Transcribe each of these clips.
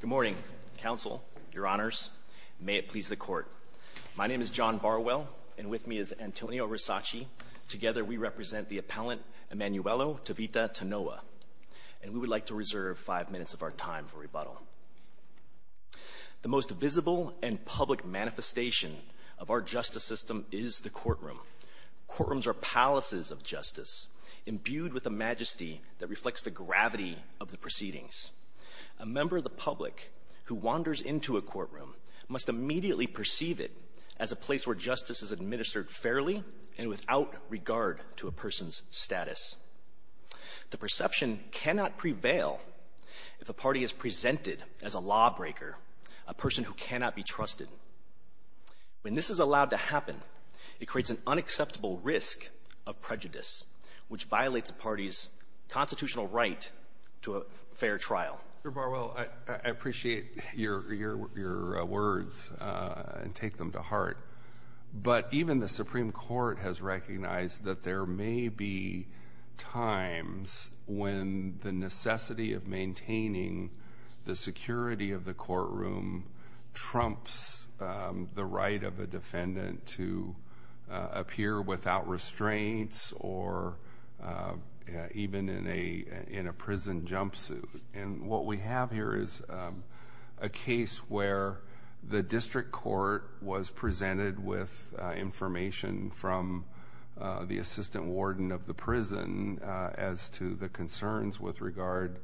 Good morning, Counsel, Your Honors. May it please the Court. My name is John Barwell, and with me is Antonio Risachi. Together we represent the appellant, Emanuelu Tevita Tunoa, and we would like to reserve five minutes of our time for rebuttal. The most visible and public manifestation of our justice system is the courtroom. Courtrooms are palaces of justice, imbued with a majesty that reflects the gravity of the proceedings. A member of the public who wanders into a courtroom must immediately perceive it as a place where justice is administered fairly and without regard to a person's status. The perception cannot prevail if a party is presented as a lawbreaker, a person who cannot be trusted. When this is allowed to happen, it creates an unacceptable risk of prejudice, which violates a party's constitutional right to a fair trial. Mr. Barwell, I appreciate your words and take them to heart, but even the Supreme Court has recognized that there may be times when the necessity of maintaining the security of the courtroom trumps the right of a defendant to appear without restraints or even in a prison jumpsuit. And what we have here is a case where the district court was presented with information from the assistant warden of the prison as to the concerns with regard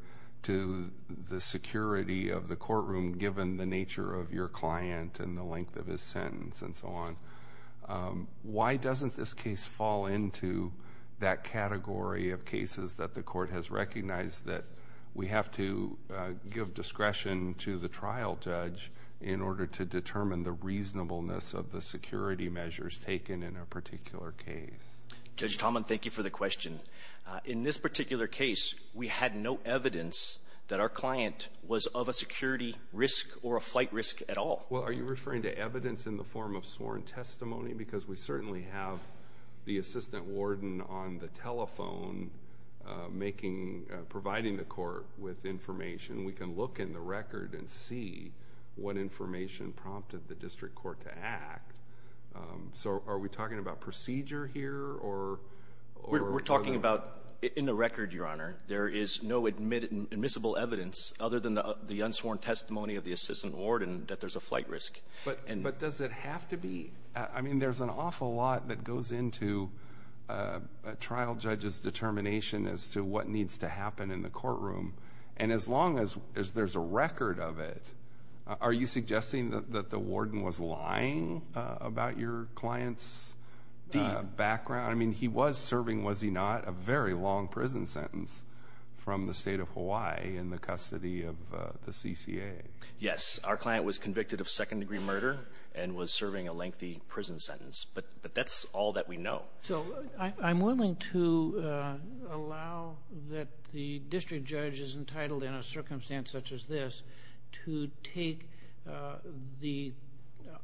to the security of the courtroom given the nature of your client and the length of his sentence and so on. Why doesn't this case fall into that category of cases that the court has recognized that we have to give discretion to the trial judge in order to determine the reasonableness of the security measures taken in a particular case? Judge Tomlin, thank you for the question. In this particular case, we had no evidence that our client was of a security risk or a flight risk at all. Well, are you referring to evidence in the form of sworn testimony? Because we certainly have the assistant warden on the telephone providing the court with information. We can look in the record and see what information prompted the district court to act. So are we talking about procedure here? We're talking about in the record, Your Honor, there is no admissible evidence other than the unsworn testimony of the assistant warden that there's a flight risk. But does it have to be? I mean, there's an awful lot that goes into a trial judge's determination as to what needs to happen in the courtroom. And as long as there's a record of it, are you suggesting that the warden was lying about your client's background? I mean, he was serving, was he not, a very long prison sentence from the state of Hawaii in the custody of the CCA. Yes, our client was convicted of second-degree murder and was serving a lengthy prison sentence. But that's all that we know. So I'm willing to allow that the district judge is entitled in a circumstance such as this to take the,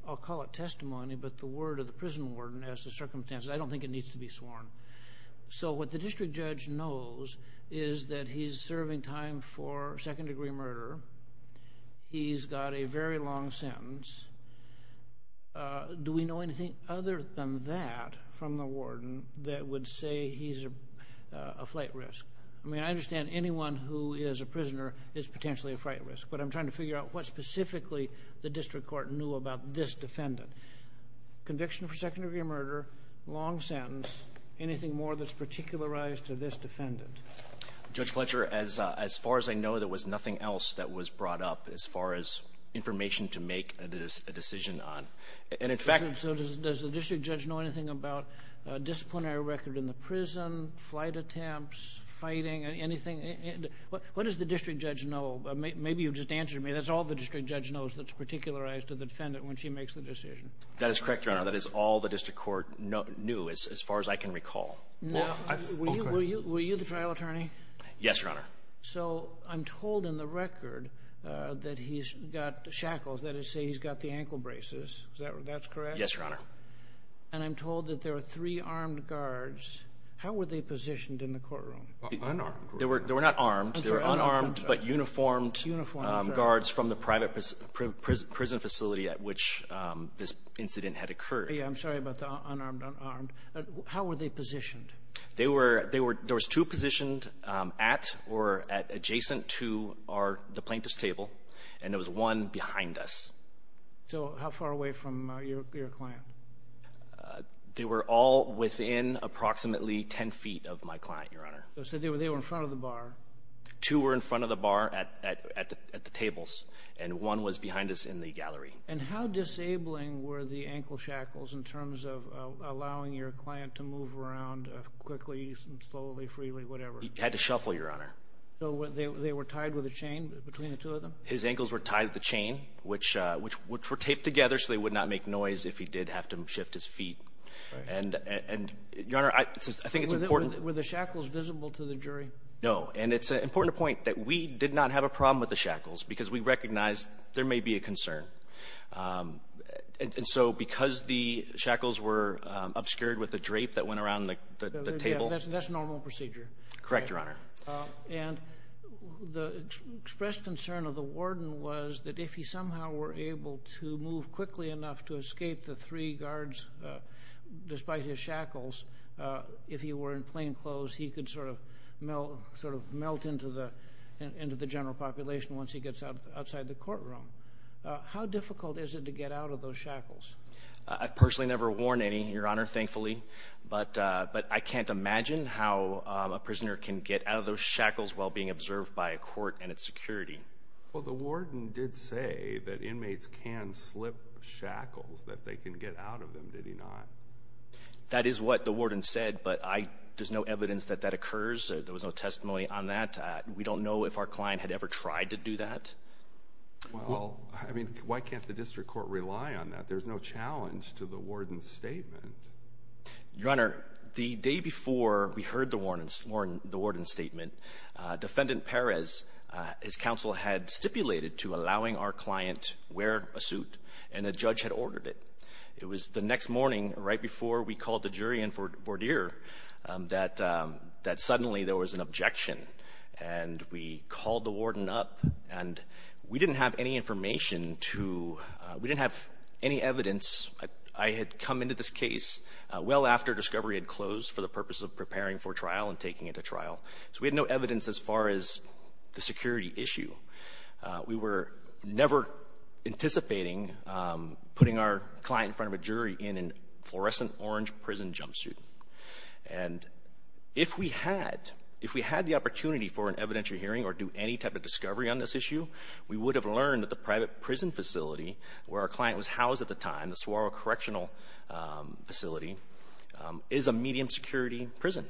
I'll call it testimony, but the word of the prison warden as the circumstances. I don't think it needs to be sworn. So what the district judge knows is that he's serving time for second-degree murder. He's got a very long sentence. Do we know anything other than that from the warden that would say he's a flight risk? I mean, I understand anyone who is a prisoner is potentially a flight risk, but I'm trying to figure out what specifically the district court knew about this defendant. Conviction for second-degree murder, long sentence, anything more that's particularized to this defendant? Judge Fletcher, as far as I know, there was nothing else that was brought up as far as information to make a decision on. And, in fact — So does the district judge know anything about disciplinary record in the prison, flight attempts, fighting, anything? What does the district judge know? Maybe you just answered me. That's all the district judge knows that's particularized to the defendant when she makes the decision. That is correct, Your Honor. That is all the district court knew as far as I can recall. Were you the trial attorney? Yes, Your Honor. So I'm told in the record that he's got shackles. That is to say he's got the ankle braces. Is that correct? Yes, Your Honor. And I'm told that there were three armed guards. How were they positioned in the courtroom? Unarmed. They were not armed. They were unarmed but uniformed guards from the private prison facility at which this incident had occurred. I'm sorry about the unarmed, unarmed. How were they positioned? There were two positioned at or adjacent to the plaintiff's table, and there was one behind us. So how far away from your client? They were all within approximately 10 feet of my client, Your Honor. So they were in front of the bar? Two were in front of the bar at the tables, and one was behind us in the gallery. And how disabling were the ankle shackles in terms of allowing your client to move around quickly, slowly, freely, whatever? He had to shuffle, Your Honor. So they were tied with a chain between the two of them? His ankles were tied with a chain, which were taped together so they would not make noise if he did have to shift his feet. And, Your Honor, I think it's important. Were the shackles visible to the jury? No, and it's important to point that we did not have a problem with the shackles because we recognized there may be a concern. And so because the shackles were obscured with a drape that went around the table. That's normal procedure? Correct, Your Honor. And the expressed concern of the warden was that if he somehow were able to move quickly enough to escape the three guards, despite his shackles, if he were in plain clothes, he could sort of melt into the general population once he gets outside the courtroom. How difficult is it to get out of those shackles? I've personally never worn any, Your Honor, thankfully. But I can't imagine how a prisoner can get out of those shackles while being observed by a court and its security. Well, the warden did say that inmates can slip shackles, that they can get out of them, did he not? That is what the warden said, but there's no evidence that that occurs. There was no testimony on that. We don't know if our client had ever tried to do that. Well, I mean, why can't the district court rely on that? There's no challenge to the warden's statement. Your Honor, the day before we heard the warden's statement, Defendant Perez, his counsel had stipulated to allowing our client to wear a suit, and a judge had ordered it. It was the next morning, right before we called the jury in for Verdeer, that suddenly there was an objection. And we called the warden up, and we didn't have any information to, we didn't have any evidence. I had come into this case well after discovery had closed for the purpose of preparing for trial and taking it to trial. So we had no evidence as far as the security issue. We were never anticipating putting our client in front of a jury in a fluorescent orange prison jumpsuit. And if we had, if we had the opportunity for an evidentiary hearing or do any type of discovery on this issue, we would have learned that the private prison facility where our client was housed at the time, the Saguaro Correctional Facility, is a medium security prison.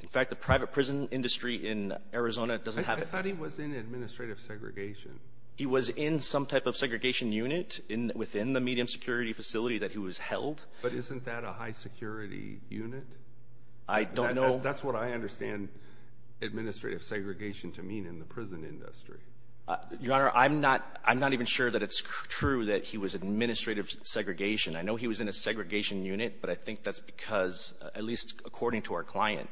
In fact, the private prison industry in Arizona doesn't have it. I thought he was in administrative segregation. He was in some type of segregation unit within the medium security facility that he was held. But isn't that a high security unit? I don't know. That's what I understand administrative segregation to mean in the prison industry. Your Honor, I'm not even sure that it's true that he was administrative segregation. I know he was in a segregation unit, but I think that's because, at least according to our client,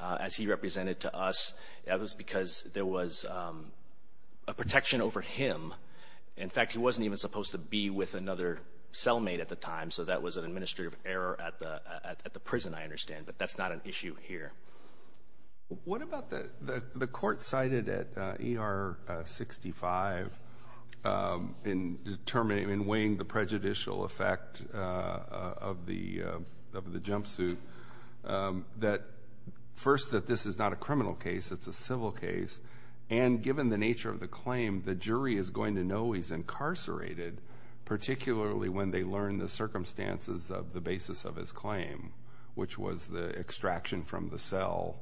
as he represented to us, that was because there was a protection over him. In fact, he wasn't even supposed to be with another cellmate at the time, so that was an administrative error at the prison, I understand, but that's not an issue here. What about the court cited at ER 65 in weighing the prejudicial effect of the jumpsuit, that first that this is not a criminal case, it's a civil case, and given the nature of the claim, the jury is going to know he's incarcerated, particularly when they learn the circumstances of the basis of his claim, which was the extraction from the cell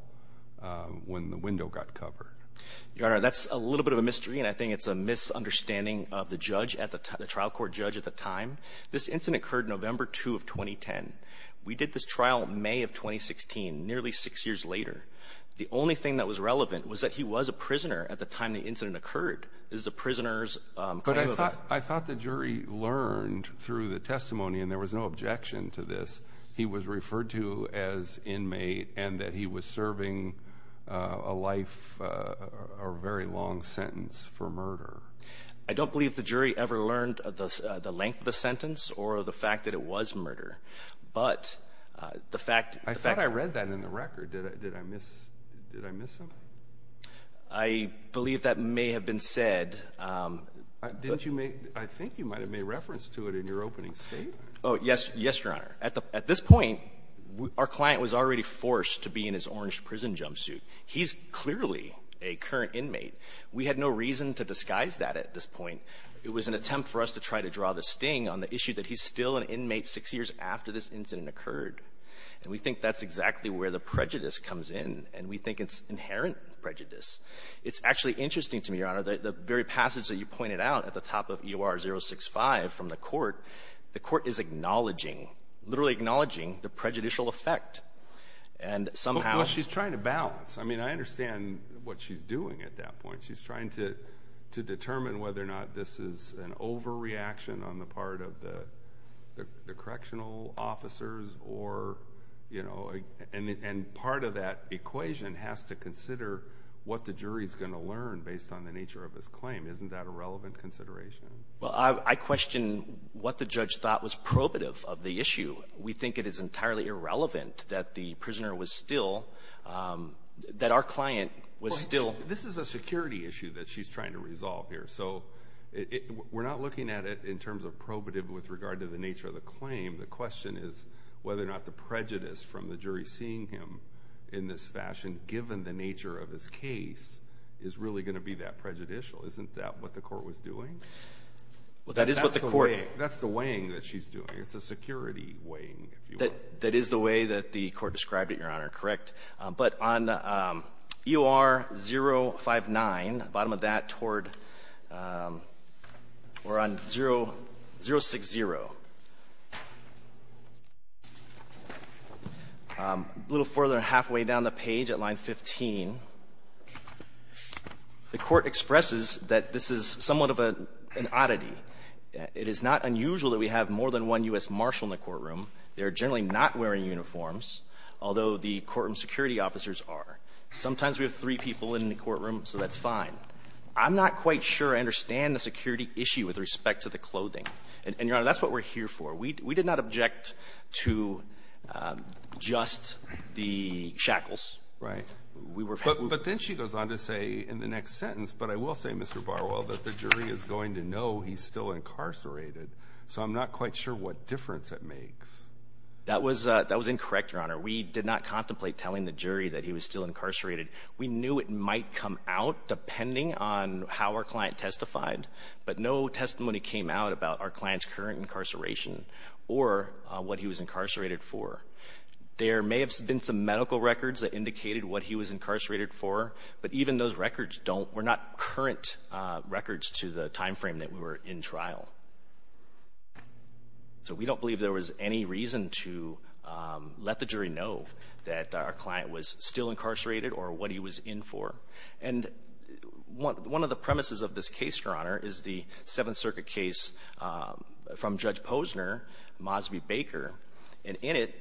when the window got covered. Your Honor, that's a little bit of a mystery, and I think it's a misunderstanding of the trial court judge at the time. This incident occurred November 2 of 2010. We did this trial May of 2016, nearly six years later. The only thing that was relevant was that he was a prisoner at the time the incident occurred. But I thought the jury learned through the testimony, and there was no objection to this, he was referred to as inmate and that he was serving a life or a very long sentence for murder. I don't believe the jury ever learned the length of the sentence or the fact that it was murder, but the fact that I thought I read that in the record. Did I miss something? I believe that may have been said. Didn't you make – I think you might have made reference to it in your opening statement. Oh, yes. Yes, Your Honor. At this point, our client was already forced to be in his orange prison jumpsuit. He's clearly a current inmate. We had no reason to disguise that at this point. It was an attempt for us to try to draw the sting on the issue that he's still an inmate six years after this incident occurred. And we think that's exactly where the prejudice comes in, and we think it's inherent prejudice. It's actually interesting to me, Your Honor, the very passage that you pointed out at the top of EOR 065 from the court, the court is acknowledging, literally acknowledging the prejudicial effect. And somehow – Well, she's trying to balance. I mean, I understand what she's doing at that point. She's trying to determine whether or not this is an overreaction on the part of the correctional officers or, you know, and part of that equation has to consider what the jury is going to learn based on the nature of his claim. Isn't that a relevant consideration? Well, I question what the judge thought was probative of the issue. We think it is entirely irrelevant that the prisoner was still – that our client was still – This is a security issue that she's trying to resolve here. So we're not looking at it in terms of probative with regard to the nature of the claim. The question is whether or not the prejudice from the jury seeing him in this fashion, given the nature of his case, is really going to be that prejudicial. Isn't that what the court was doing? That's the weighing that she's doing. It's a security weighing, if you will. That is the way that the court described it, Your Honor. Correct. But on EOR-059, bottom of that, toward – or on 060, a little further and halfway down the page at line 15, the Court expresses that this is somewhat of an oddity. It is not unusual that we have more than one U.S. marshal in the courtroom. They're generally not wearing uniforms, although the courtroom security officers are. Sometimes we have three people in the courtroom, so that's fine. I'm not quite sure I understand the security issue with respect to the clothing. And, Your Honor, that's what we're here for. We did not object to just the shackles. Right. But then she goes on to say in the next sentence, but I will say, Mr. Barwell, that the jury is going to know he's still incarcerated. So I'm not quite sure what difference it makes. That was incorrect, Your Honor. We did not contemplate telling the jury that he was still incarcerated. We knew it might come out depending on how our client testified, but no testimony came out about our client's current incarceration or what he was incarcerated for. There may have been some medical records that indicated what he was incarcerated for, but even those records don't – were not current records to the timeframe that we were in trial. So we don't believe there was any reason to let the jury know that our client was still incarcerated or what he was in for. And one of the premises of this case, Your Honor, is the Seventh Circuit case from Judge Posner, Mosby-Baker. And in it,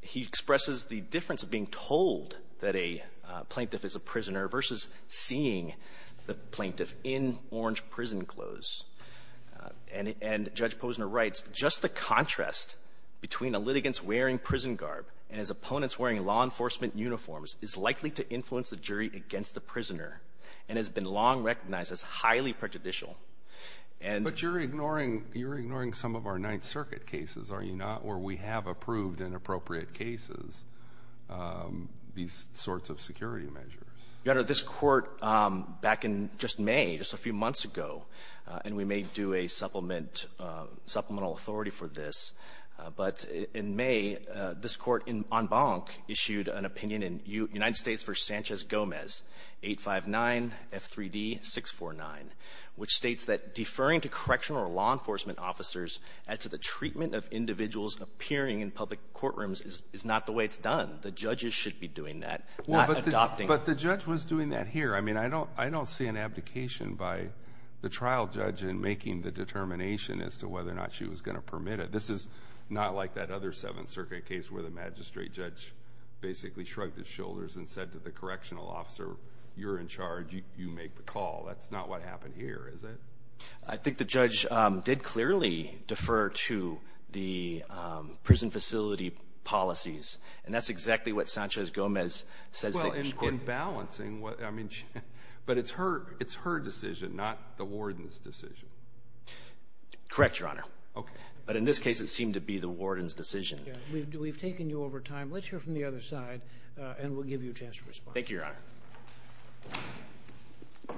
he expresses the difference of being told that a plaintiff is a prisoner versus seeing the plaintiff in orange prison clothes. And Judge Posner writes, Just the contrast between a litigant's wearing prison garb and his opponent's wearing law enforcement uniforms is likely to influence the jury against the prisoner and has been long recognized as highly prejudicial. But you're ignoring some of our Ninth Circuit cases, are you not, where we have approved in appropriate cases these sorts of security measures. Your Honor, this Court, back in just May, just a few months ago, and we may do a supplement – supplemental authority for this, but in May, this Court, en banc, issued an opinion in United States v. Sanchez-Gomez, 859-F3D-649, which states that deferring to correctional or law enforcement officers as to the treatment of individuals appearing in public courtrooms is not the way it's done. The judges should be doing that, not adopting it. But the judge was doing that here. I mean, I don't see an abdication by the trial judge in making the determination as to whether or not she was going to permit it. This is not like that other Seventh Circuit case where the magistrate judge basically shrugged his shoulders and said to the correctional officer, You're in charge, you make the call. That's not what happened here, is it? I think the judge did clearly defer to the prison facility policies, and that's exactly what Sanchez-Gomez says that she can't do. Well, in balancing, I mean, but it's her decision, not the warden's decision. Correct, Your Honor. Okay. But in this case, it seemed to be the warden's decision. We've taken you over time. Let's hear from the other side, and we'll give you a chance to respond. Thank you, Your Honor. Thank you.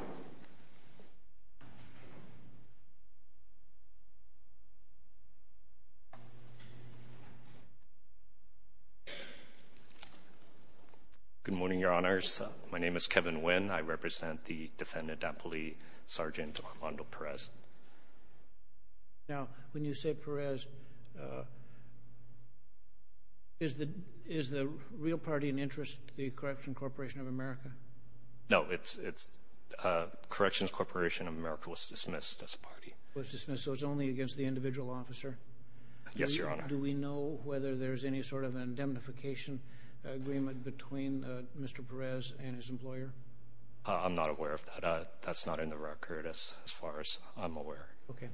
Good morning, Your Honors. My name is Kevin Nguyen. I represent the defendant, Apolli, Sergeant Armando Perez. Now, when you say Perez, is the real party in interest the Corrections Corporation of America? No, it's Corrections Corporation of America was dismissed as a party. Was dismissed, so it's only against the individual officer? Yes, Your Honor. Do we know whether there's any sort of indemnification agreement between Mr. Perez and his employer? I'm not aware of that. That's not in the record as far as I'm aware. Okay.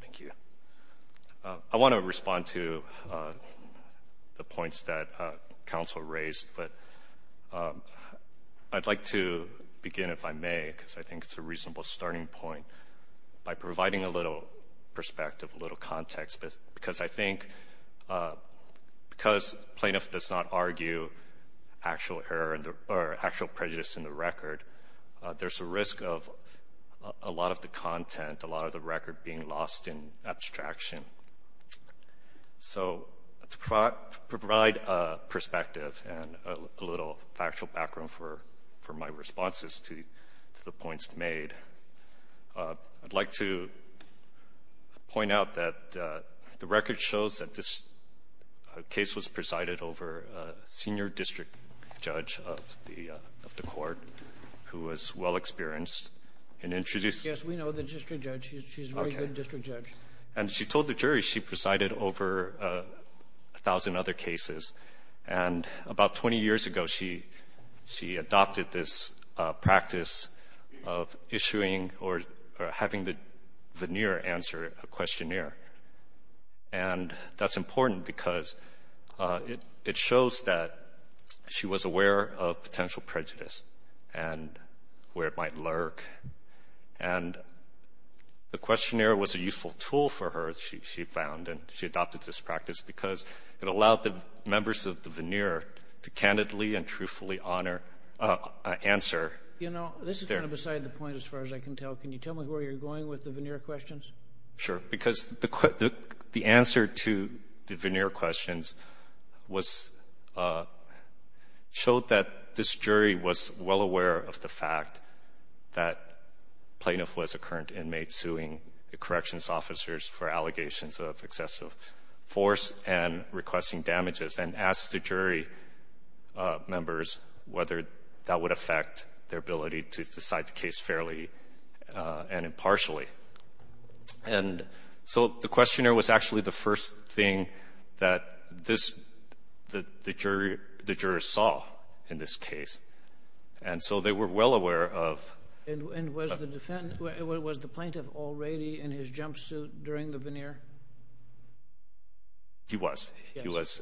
Thank you. I want to respond to the points that counsel raised. But I'd like to begin, if I may, because I think it's a reasonable starting point, by providing a little perspective, a little context, because I think because plaintiff does not argue actual prejudice in the record, there's a risk of a lot of the content, a lot of the record being lost in abstraction. So to provide a perspective and a little factual background for my responses to the points made, I'd like to point out that the record shows that this case was presided over a senior district judge of the court who was well-experienced in introducing the case. Yes, we know the district judge. She's a very good district judge. And she told the jury she presided over a thousand other cases. And about 20 years ago, she adopted this practice of issuing or having the veneer answer a questionnaire. And that's important because it shows that she was aware of potential prejudice and where it might lurk. And the questionnaire was a useful tool for her, she found, and she adopted this practice because it allowed the members of the veneer to candidly and truthfully answer. You know, this is kind of beside the point, as far as I can tell. Can you tell me where you're going with the veneer questions? Sure. Because the answer to the veneer questions was — showed that this jury was well aware of the fact that plaintiff was a current inmate suing the corrections officers for allegations of excessive force and requesting damages, and asked the And so the questionnaire was actually the first thing that the jurors saw in this case. And so they were well aware of — And was the plaintiff already in his jumpsuit during the veneer? He was. He was.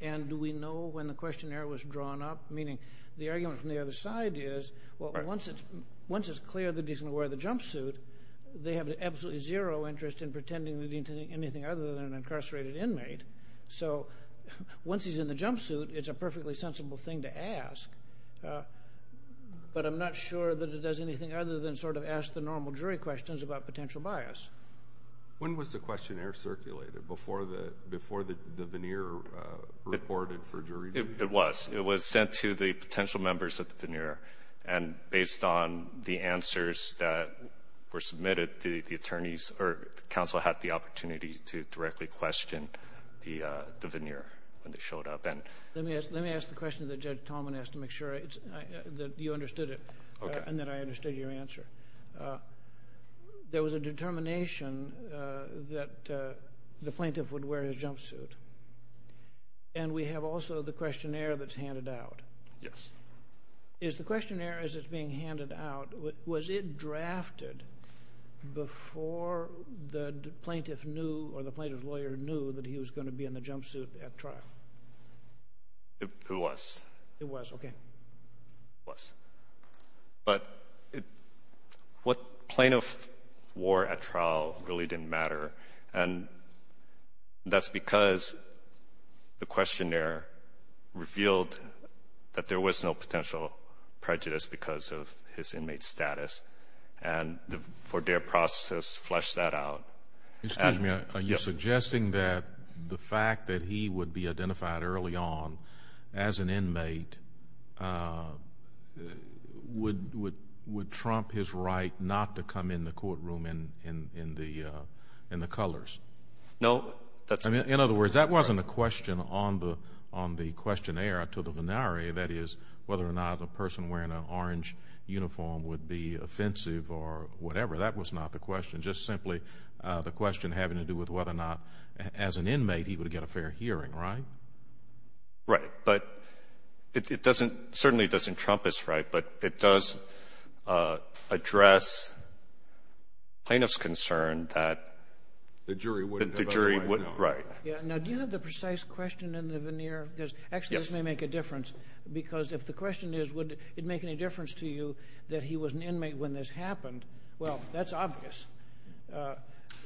And do we know when the questionnaire was drawn up? Meaning, the argument from the other side is, well, once it's clear that he's going to wear the jumpsuit, they have absolutely zero interest in pretending that he's anything other than an incarcerated inmate. So once he's in the jumpsuit, it's a perfectly sensible thing to ask. But I'm not sure that it does anything other than sort of ask the normal jury questions about potential bias. When was the questionnaire circulated? Before the veneer reported for jury? It was. It was sent to the potential members of the veneer, and based on the answers that were submitted, the attorneys or counsel had the opportunity to directly question the veneer when they showed up. Let me ask the question that Judge Tallman asked to make sure that you understood it. Okay. And that I understood your answer. There was a determination that the plaintiff would wear his jumpsuit. And we have also the questionnaire that's handed out. Yes. Is the questionnaire as it's being handed out, was it drafted before the plaintiff knew or the plaintiff's lawyer knew that he was going to be in the jumpsuit at trial? It was. It was, okay. It was. But what plaintiff wore at trial really didn't matter, and that's because the questionnaire revealed that there was no potential prejudice because of his inmate status, and the four-day process fleshed that out. Excuse me. Yes. Are you suggesting that the fact that he would be identified early on as an inmate, would trump his right not to come in the courtroom in the colors? No. In other words, that wasn't a question on the questionnaire to the venere, that is whether or not a person wearing an orange uniform would be offensive or whatever. That was not the question. Just simply the question having to do with whether or not as an inmate he would get a fair hearing, right? Right. But it doesn't – certainly it doesn't trump his right, but it does address plaintiff's concern that the jury wouldn't have otherwise known. Right. Now, do you have the precise question in the veneer? Yes. Actually, this may make a difference, because if the question is, would it make any difference to you that he was an inmate when this happened, well, that's obvious.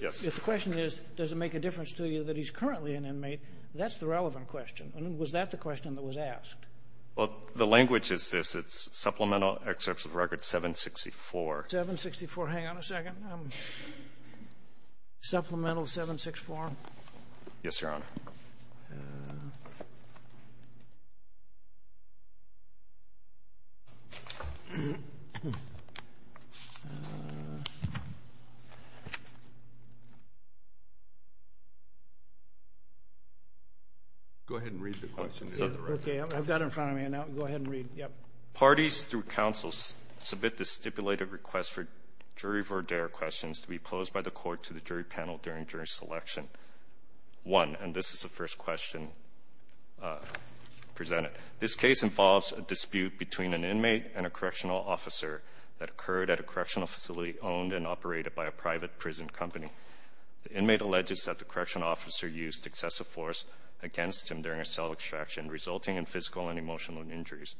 Yes. If the question is, does it make a difference to you that he's currently an inmate, that's the relevant question. And was that the question that was asked? Well, the language is this. It's Supplemental Excerpt of Record 764. 764. Hang on a second. Supplemental 764. Yes, Your Honor. Go ahead and read the question. Okay. I've got it in front of me now. Go ahead and read. Yep. Parties through counsel submit the stipulated request for jury verdere questions to be posed by the court to the jury panel during jury selection. One, and this is the first question presented. This case involves a dispute between an inmate and a correctional officer that occurred at a correctional facility owned and operated by a private prison company. The inmate alleges that the correctional officer used excessive force against him during a self-extraction, resulting in physical and emotional injuries.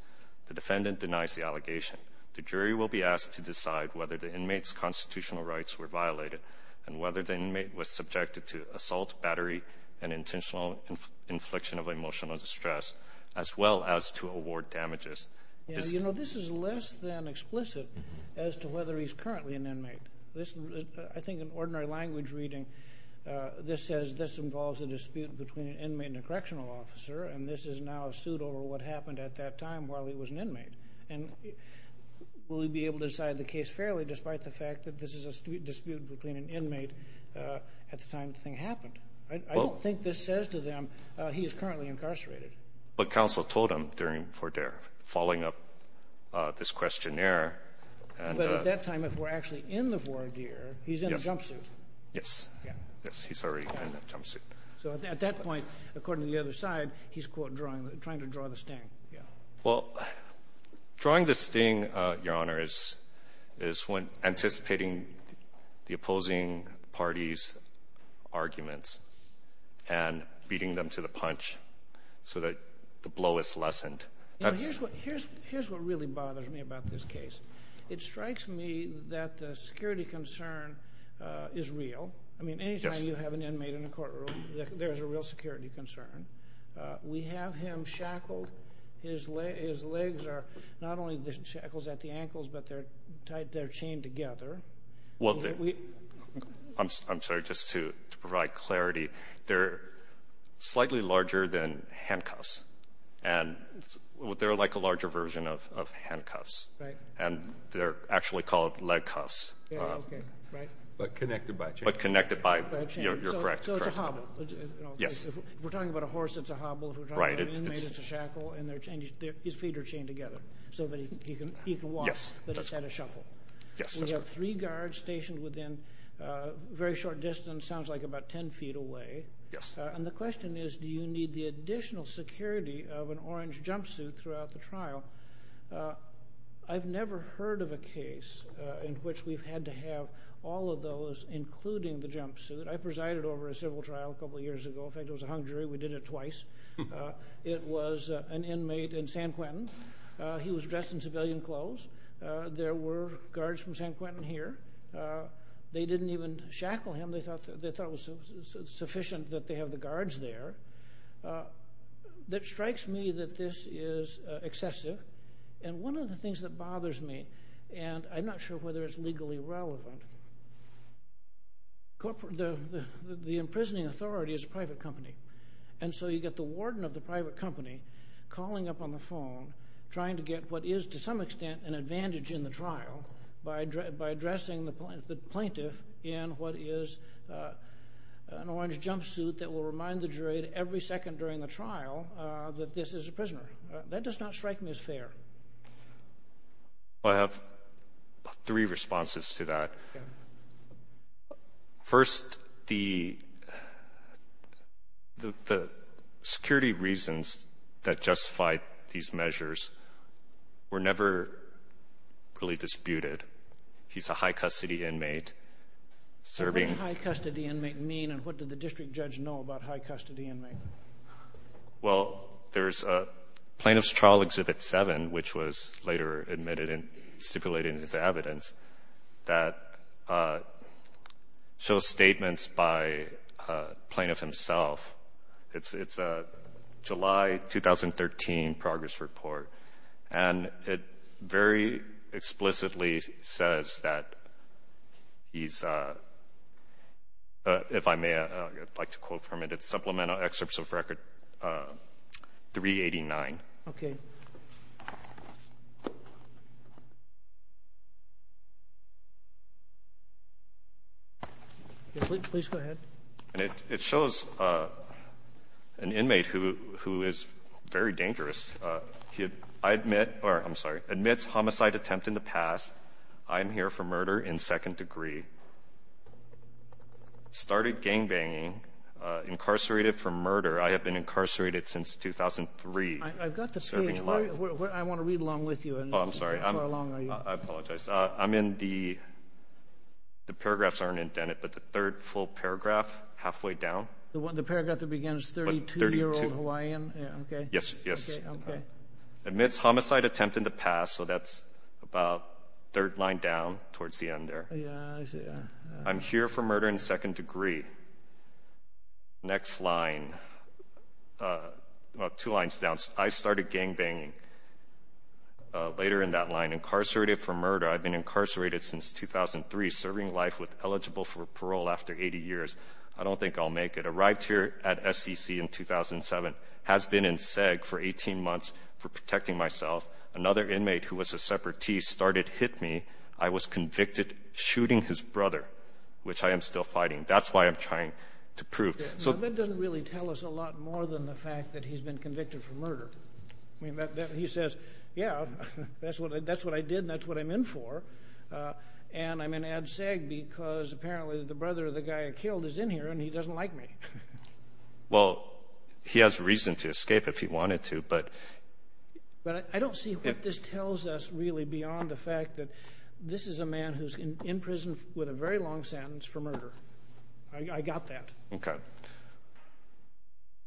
The defendant denies the allegation. The jury will be asked to decide whether the inmate's constitutional rights were violated and whether the inmate was subjected to assault, battery, and intentional infliction of emotional distress, as well as to award damages. You know, this is less than explicit as to whether he's currently an inmate. I think in ordinary language reading, this says this involves a dispute between an inmate and a correctional officer, and this is now a suit over what happened at that time while he was an inmate. And will he be able to decide the case fairly despite the fact that this is a dispute between an inmate at the time the thing happened? I don't think this says to them he is currently incarcerated. But counsel told him during fordere, following up this questionnaire. But at that time, if we're actually in the voir dire, he's in a jumpsuit. Yes. Yes, he's already in a jumpsuit. So at that point, according to the other side, he's, quote, trying to draw the sting. Well, drawing the sting, Your Honor, is when anticipating the opposing party's arguments and beating them to the punch so that the blow is lessened. Here's what really bothers me about this case. It strikes me that the security concern is real. I mean, any time you have an inmate in a courtroom, there's a real security concern. We have him shackled. His legs are not only shackled at the ankles, but they're chained together. I'm sorry. Just to provide clarity, they're slightly larger than handcuffs. And they're like a larger version of handcuffs. Right. And they're actually called leg cuffs. Okay. Right. But connected by a chain. But connected by a chain. You're correct. So it's a hobble. Yes. If we're talking about a horse, it's a hobble. If we're talking about an inmate, it's a shackle, and his feet are chained together so that he can walk. Yes. But it's at a shuffle. Yes. We have three guards stationed within very short distance. Sounds like about 10 feet away. Yes. And the question is, do you need the additional security of an orange jumpsuit throughout the trial? I've never heard of a case in which we've had to have all of those, including the jumpsuit. I presided over a civil trial a couple years ago. In fact, it was a hung jury. We did it twice. It was an inmate in San Quentin. He was dressed in civilian clothes. There were guards from San Quentin here. They didn't even shackle him. They thought it was sufficient that they have the guards there. That strikes me that this is excessive. And one of the things that bothers me, and I'm not sure whether it's legally relevant. The imprisoning authority is a private company. And so you get the warden of the private company calling up on the phone trying to get what is, to some extent, an advantage in the trial by addressing the plaintiff in what is an orange jumpsuit that will remind the jury every second during the trial that this is a prisoner. That does not strike me as fair. I have three responses to that. First, the security reasons that justify these measures were never really disputed. He's a high-custody inmate serving. What does a high-custody inmate mean, and what did the district judge know about high-custody inmates? Well, there's Plaintiff's Trial Exhibit 7, which was later admitted and stipulated in his evidence, that shows statements by the plaintiff himself. It's a July 2013 progress report, and it very explicitly says that he's, if I may like to quote from it, Supplemental Excerpts of Record 389. Okay. Please go ahead. And it shows an inmate who is very dangerous. He admits homicide attempt in the past. I'm here for murder in second degree. Started gangbanging. Incarcerated for murder. I have been incarcerated since 2003. I've got the page. I want to read along with you. Oh, I'm sorry. How long are you? I apologize. I'm in the – the paragraphs aren't indented, but the third full paragraph, halfway down. The paragraph that begins 32-year-old Hawaiian? Yes, yes. Okay, okay. Admits homicide attempt in the past, so that's about third line down towards the end there. I'm here for murder in second degree. Next line. Well, two lines down. I started gangbanging. Later in that line. Incarcerated for murder. I've been incarcerated since 2003. Serving life with eligible for parole after 80 years. I don't think I'll make it. Arrived here at SEC in 2007. Has been in SEG for 18 months for protecting myself. Another inmate who was a separatist started hit me. I was convicted shooting his brother, which I am still fighting. That's why I'm trying to prove. Now, that doesn't really tell us a lot more than the fact that he's been convicted for murder. I mean, he says, yeah, that's what I did and that's what I'm in for. And I'm in ad seg because apparently the brother of the guy I killed is in here and he doesn't like me. Well, he has reason to escape if he wanted to. But I don't see what this tells us really beyond the fact that this is a man who's in prison with a very long sentence for murder. I got that. Okay.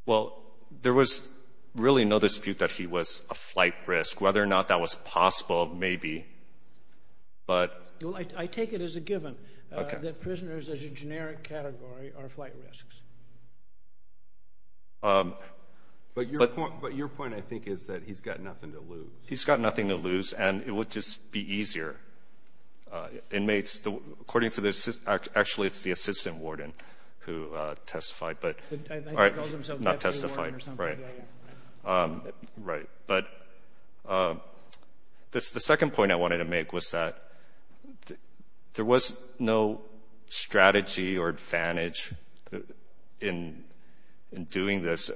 Well, there was really no dispute that he was a flight risk. Whether or not that was possible, maybe. I take it as a given that prisoners as a generic category are flight risks. But your point, I think, is that he's got nothing to lose. He's got nothing to lose, and it would just be easier. Inmates, according to this, actually it's the assistant warden who testified, but not testified. Right. But the second point I wanted to make was that there was no strategy or advantage in doing this.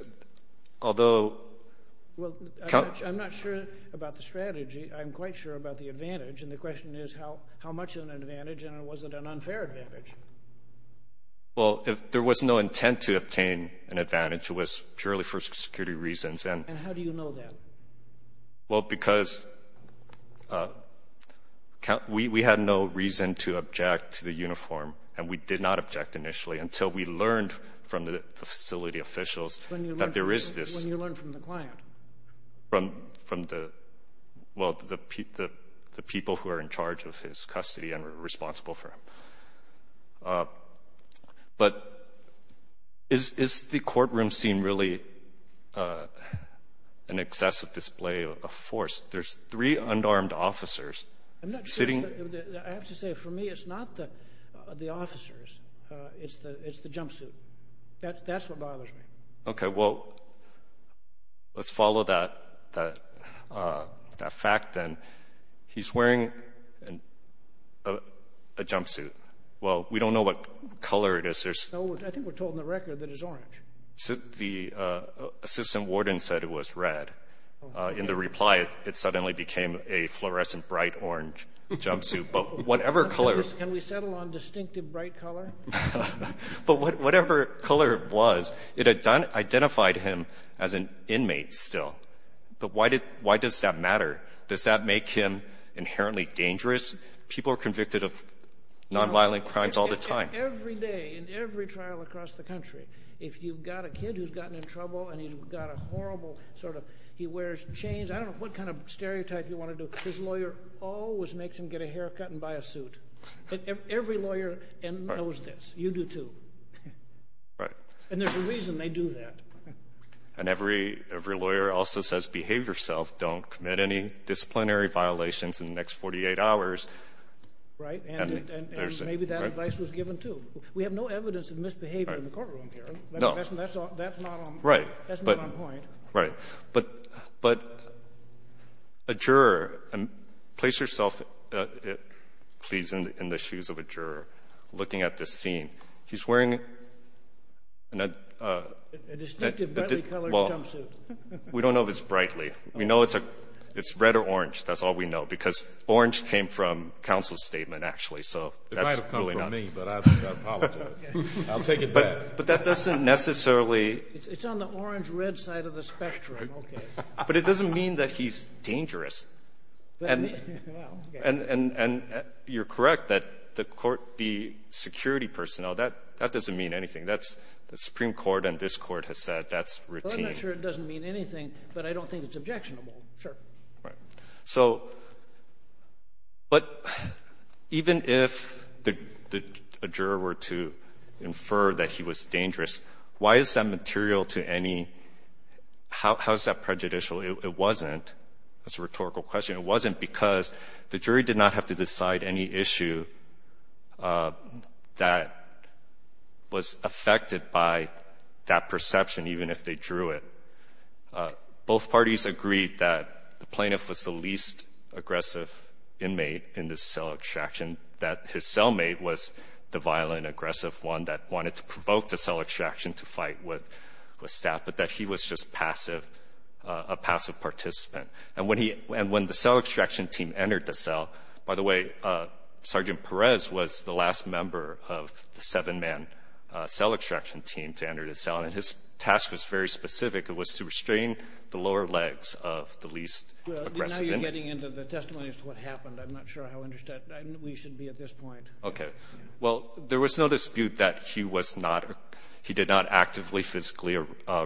Although – Well, I'm not sure about the strategy. I'm quite sure about the advantage, and the question is how much of an advantage and was it an unfair advantage? Well, there was no intent to obtain an advantage. It was purely for security reasons. And how do you know that? Well, because we had no reason to object to the uniform, and we did not object initially, until we learned from the facility officials that there is this – When you learned from the client. Well, the people who are in charge of his custody and are responsible for him. But is the courtroom scene really an excessive display of force? There's three unarmed officers sitting. I'm not sure. I have to say, for me, it's not the officers. It's the jumpsuit. That's what bothers me. Okay. Well, let's follow that fact, then. He's wearing a jumpsuit. Well, we don't know what color it is. I think we're told in the record that it's orange. The assistant warden said it was red. In the reply, it suddenly became a fluorescent bright orange jumpsuit. But whatever color – Can we settle on distinctive bright color? But whatever color it was, it identified him as an inmate still. But why does that matter? Does that make him inherently dangerous? People are convicted of nonviolent crimes all the time. Every day, in every trial across the country, if you've got a kid who's gotten in trouble and he's got a horrible sort of – he wears chains. I don't know what kind of stereotype you want to do. His lawyer always makes him get a haircut and buy a suit. Every lawyer knows this. You do, too. And there's a reason they do that. And every lawyer also says, don't commit any disciplinary violations in the next 48 hours. Right. And maybe that advice was given, too. We have no evidence of misbehavior in the courtroom here. That's not on point. Right. But a juror – place yourself, please, in the shoes of a juror looking at this scene. He's wearing a – A distinctive brightly colored jumpsuit. We don't know if it's brightly. We know it's red or orange. That's all we know because orange came from counsel's statement, actually. So that's really not – It might have come from me, but I apologize. I'll take it back. But that doesn't necessarily – It's on the orange-red side of the spectrum. Okay. But it doesn't mean that he's dangerous. And you're correct that the security personnel, that doesn't mean anything. The Supreme Court and this Court have said that's routine. Well, I'm not sure it doesn't mean anything, but I don't think it's objectionable. Sure. Right. So – but even if a juror were to infer that he was dangerous, why is that material to any – how is that prejudicial? It wasn't. That's a rhetorical question. It wasn't because the jury did not have to decide any issue that was affected by that perception, even if they drew it. Both parties agreed that the plaintiff was the least aggressive inmate in this cell extraction, that his cellmate was the violent, aggressive one that wanted to provoke the cell extraction to fight with staff, but that he was just passive, a passive participant. And when he – and when the cell extraction team entered the cell – by the way, Sergeant Perez was the last member of the seven-man cell extraction team to enter the cell, and his task was very specific. It was to restrain the lower legs of the least aggressive inmate. Well, now you're getting into the testimony as to what happened. I'm not sure how interested we should be at this point. Okay. Well, there was no dispute that he was not – he did not actively, physically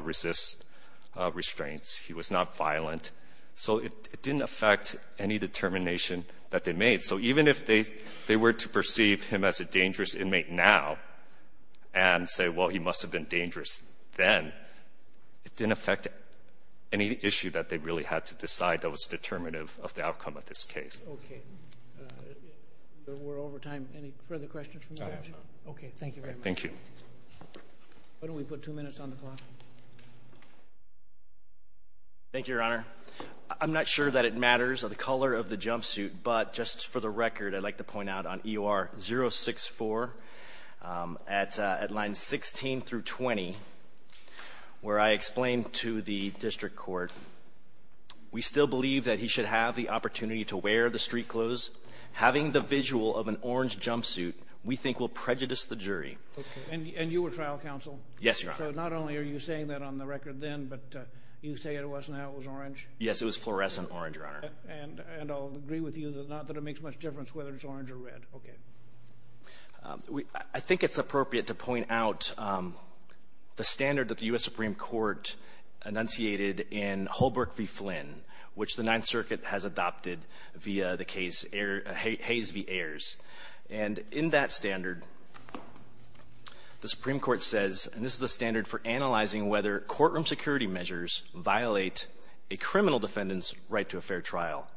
resist restraints. He was not violent. So it didn't affect any determination that they made. So even if they were to perceive him as a dangerous inmate now and say, well, he must have been dangerous then, it didn't affect any issue that they really had to decide that was determinative of the outcome of this case. Okay. We're over time. Any further questions from the judges? I have none. Okay. Thank you very much. Why don't we put two minutes on the clock? Thank you, Your Honor. I'm not sure that it matters of the color of the jumpsuit, but just for the record, I'd like to point out on EUR-064 at lines 16 through 20, where I explained to the district court, we still believe that he should have the opportunity to wear the street clothes. Having the visual of an orange jumpsuit we think will prejudice the jury. Okay. And you were trial counsel? Yes, Your Honor. So not only are you saying that on the record then, but you say it wasn't how it was orange? Yes, it was fluorescent orange, Your Honor. And I'll agree with you that it makes much difference whether it's orange or red. Okay. I think it's appropriate to point out the standard that the U.S. Supreme Court enunciated in Holbrook v. Flynn, which the Ninth Circuit has adopted via the case Hayes v. Ayers. And in that standard, the Supreme Court says, and this is the standard for analyzing whether courtroom security measures violate a criminal defendant's right to a fair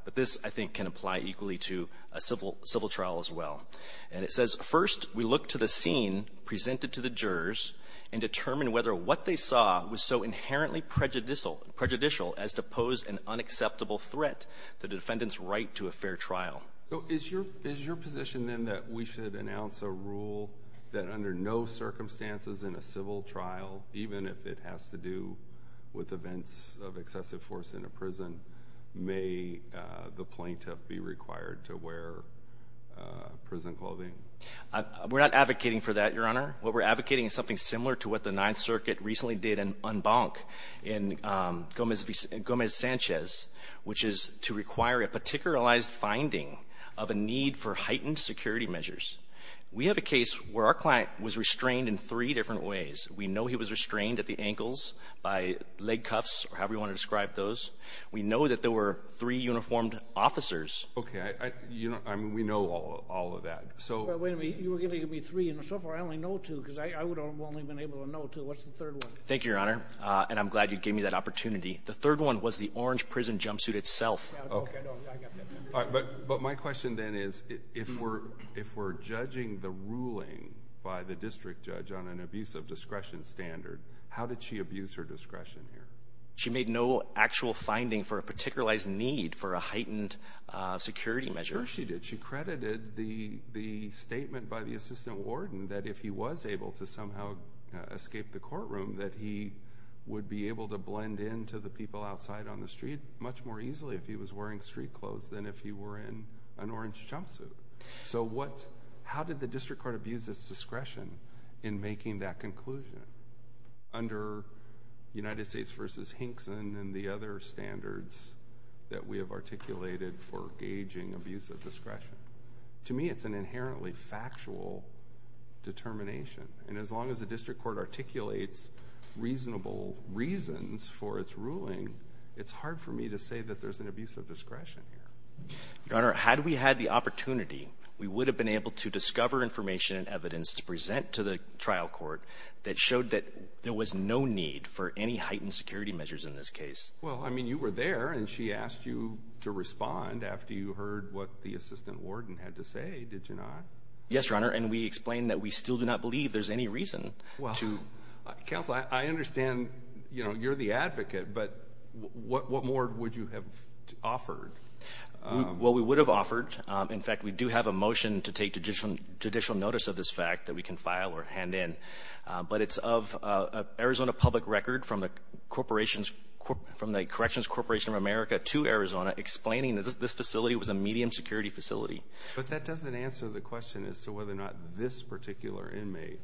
But this, I think, can apply equally to a civil trial as well. And it says, first, we look to the scene presented to the jurors and determine whether what they saw was so inherently prejudicial as to pose an unacceptable threat to the defendant's right to a fair trial. So is your position then that we should announce a rule that under no circumstances in a civil trial, even if it has to do with events of excessive force in a prison, may the plaintiff be required to wear prison clothing? We're not advocating for that, Your Honor. What we're advocating is something similar to what the Ninth Circuit recently did in Gomez-Sanchez, which is to require a particularized finding of a need for heightened security measures. We have a case where our client was restrained in three different ways. We know he was restrained at the ankles, by leg cuffs, or however you want to describe those. We know that there were three uniformed officers. Okay. I mean, we know all of that. But wait a minute. You were giving me three. And so far, I only know two, because I would have only been able to know two. What's the third one? Thank you, Your Honor. And I'm glad you gave me that opportunity. The third one was the orange prison jumpsuit itself. Okay. But my question then is, if we're judging the ruling by the district judge on an abuse of discretion standard, how did she abuse her discretion here? She made no actual finding for a particularized need for a heightened security measure. Sure she did. She credited the statement by the assistant warden that if he was able to somehow escape the courtroom, that he would be able to blend in to the people outside on the street much more easily if he was wearing street clothes than if he were in an orange jumpsuit. So how did the district court abuse its discretion in making that conclusion under United States v. Hinkson and the other standards that we have articulated for gauging abuse of discretion? To me, it's an inherently factual determination. And as long as the district court articulates reasonable reasons for its ruling, it's hard for me to say that there's an abuse of discretion here. Your Honor, had we had the opportunity, we would have been able to discover information and evidence to present to the trial court that showed that there was no need for any heightened security measures in this case. Well, I mean, you were there and she asked you to respond after you heard what the assistant warden had to say, did you not? Yes, Your Honor. And we explained that we still do not believe there's any reason to. Counsel, I understand you're the advocate, but what more would you have offered? Well, we would have offered, in fact, we do have a motion to take judicial notice of this fact that we can file or hand in. But it's of Arizona public record from the Corrections Corporation of America to Arizona explaining that this facility was a medium security facility. But that doesn't answer the question as to whether or not this particular inmate,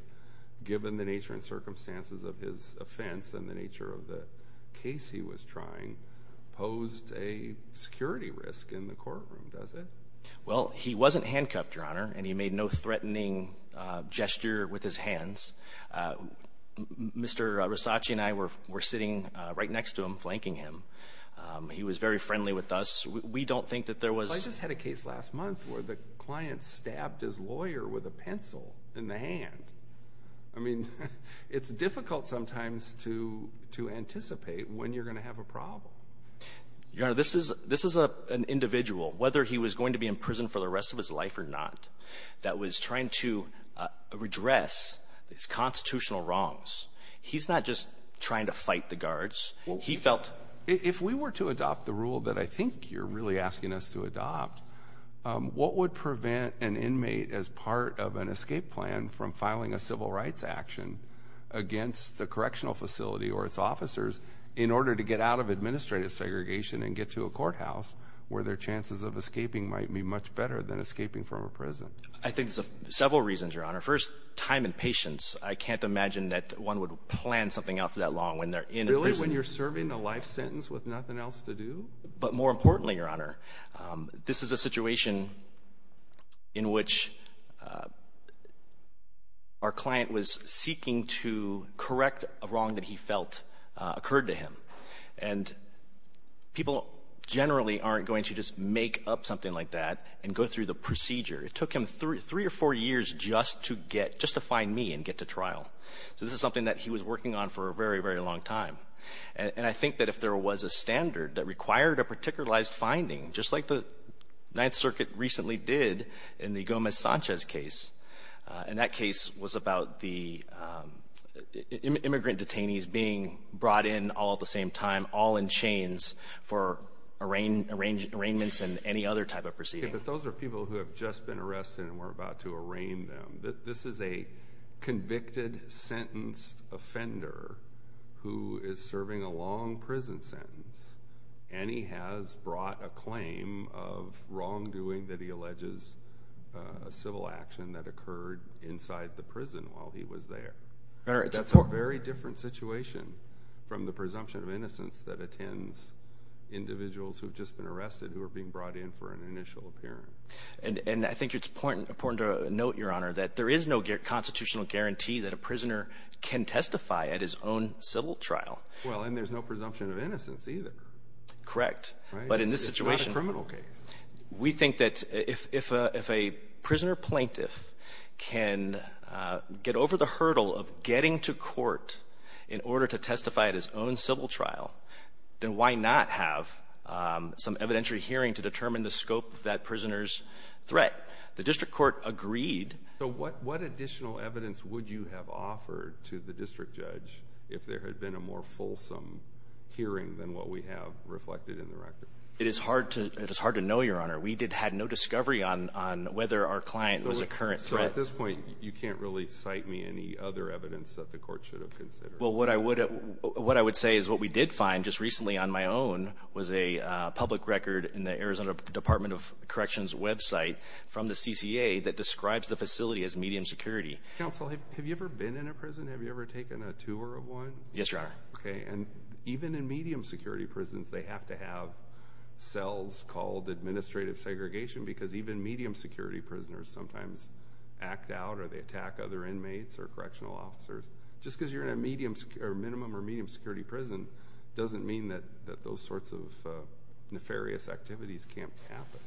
given the nature and circumstances of his offense and the nature of the case he was trying, posed a security risk in the courtroom, does it? Well, he wasn't handcuffed, Your Honor, and he made no threatening gesture with his hands. Mr. Risacci and I were sitting right next to him, flanking him. He was very friendly with us. We don't think that there was... where the client stabbed his lawyer with a pencil in the hand. I mean, it's difficult sometimes to anticipate when you're going to have a problem. Your Honor, this is an individual, whether he was going to be in prison for the rest of his life or not, that was trying to redress his constitutional wrongs. If we were to adopt the rule that I think you're really asking us to adopt, what would prevent an inmate as part of an escape plan from filing a civil rights action against the correctional facility or its officers in order to get out of administrative segregation and get to a courthouse where their chances of escaping might be much better than escaping from a prison? I think there's several reasons, Your Honor. First, time and patience. I can't imagine that one would plan something out for that long when they're in a prison. Right when you're serving a life sentence with nothing else to do? But more importantly, Your Honor, this is a situation in which our client was seeking to correct a wrong that he felt occurred to him. And people generally aren't going to just make up something like that and go through the procedure. It took him three or four years just to find me and get to trial. So this is something that he was working on for a very, very long time. And I think that if there was a standard that required a particularized finding, just like the Ninth Circuit recently did in the Gomez-Sanchez case, and that case was about the immigrant detainees being brought in all at the same time, all in chains for arraignments and any other type of proceeding. But those are people who have just been arrested and we're about to arraign them. This is a convicted, sentenced offender who is serving a long prison sentence, and he has brought a claim of wrongdoing that he alleges a civil action that occurred inside the prison while he was there. That's a very different situation from the presumption of innocence that attends individuals who have just been arrested who are being brought in for an initial appearance. And I think it's important to note, Your Honor, that there is no constitutional guarantee that a prisoner can testify at his own civil trial. Well, and there's no presumption of innocence either. Correct. But in this situation — It's not a criminal case. We think that if a prisoner plaintiff can get over the hurdle of getting to court in order to testify at his own civil trial, then why not have some evidentiary hearing to determine the scope of that prisoner's threat? The district court agreed. So what additional evidence would you have offered to the district judge if there had been a more fulsome hearing than what we have reflected in the record? It is hard to know, Your Honor. We had no discovery on whether our client was a current threat. So at this point, you can't really cite me any other evidence that the court should have considered? Well, what I would say is what we did find just recently on my own was a public record in the Arizona Department of Corrections website from the CCA that describes the facility as medium security. Counsel, have you ever been in a prison? Have you ever taken a tour of one? Yes, Your Honor. Okay. And even in medium security prisons, they have to have cells called administrative segregation or they attack other inmates or correctional officers. Just because you're in a minimum or medium security prison doesn't mean that those sorts of nefarious activities can't happen.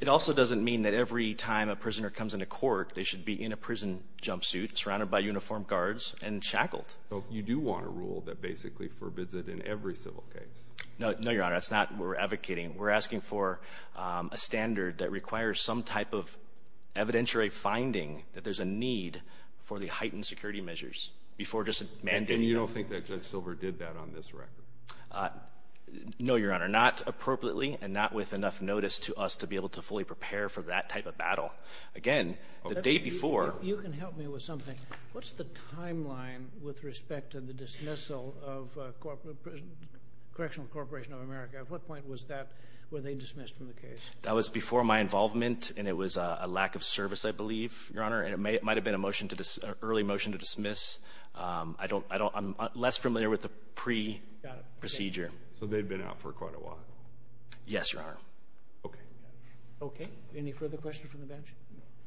It also doesn't mean that every time a prisoner comes into court, they should be in a prison jumpsuit surrounded by uniformed guards and shackled. So you do want a rule that basically forbids it in every civil case? No, Your Honor. That's not what we're advocating. We're asking for a standard that requires some type of evidentiary finding that there's a need for the heightened security measures. And you don't think that Judge Silver did that on this record? No, Your Honor. Not appropriately and not with enough notice to us to be able to fully prepare for that type of battle. Again, the day before. You can help me with something. What's the timeline with respect to the dismissal of Correctional Corporation of America? At what point were they dismissed from the case? That was before my involvement, and it was a lack of service, I believe. Your Honor, it might have been an early motion to dismiss. I'm less familiar with the pre-procedure. So they've been out for quite a while? Yes, Your Honor. Okay. Okay. Any further questions from the bench?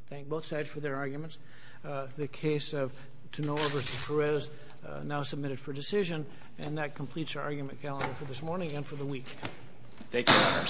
Thank both sides for their arguments. The case of Tenor v. Perez now submitted for decision, Thank you, Your Honors.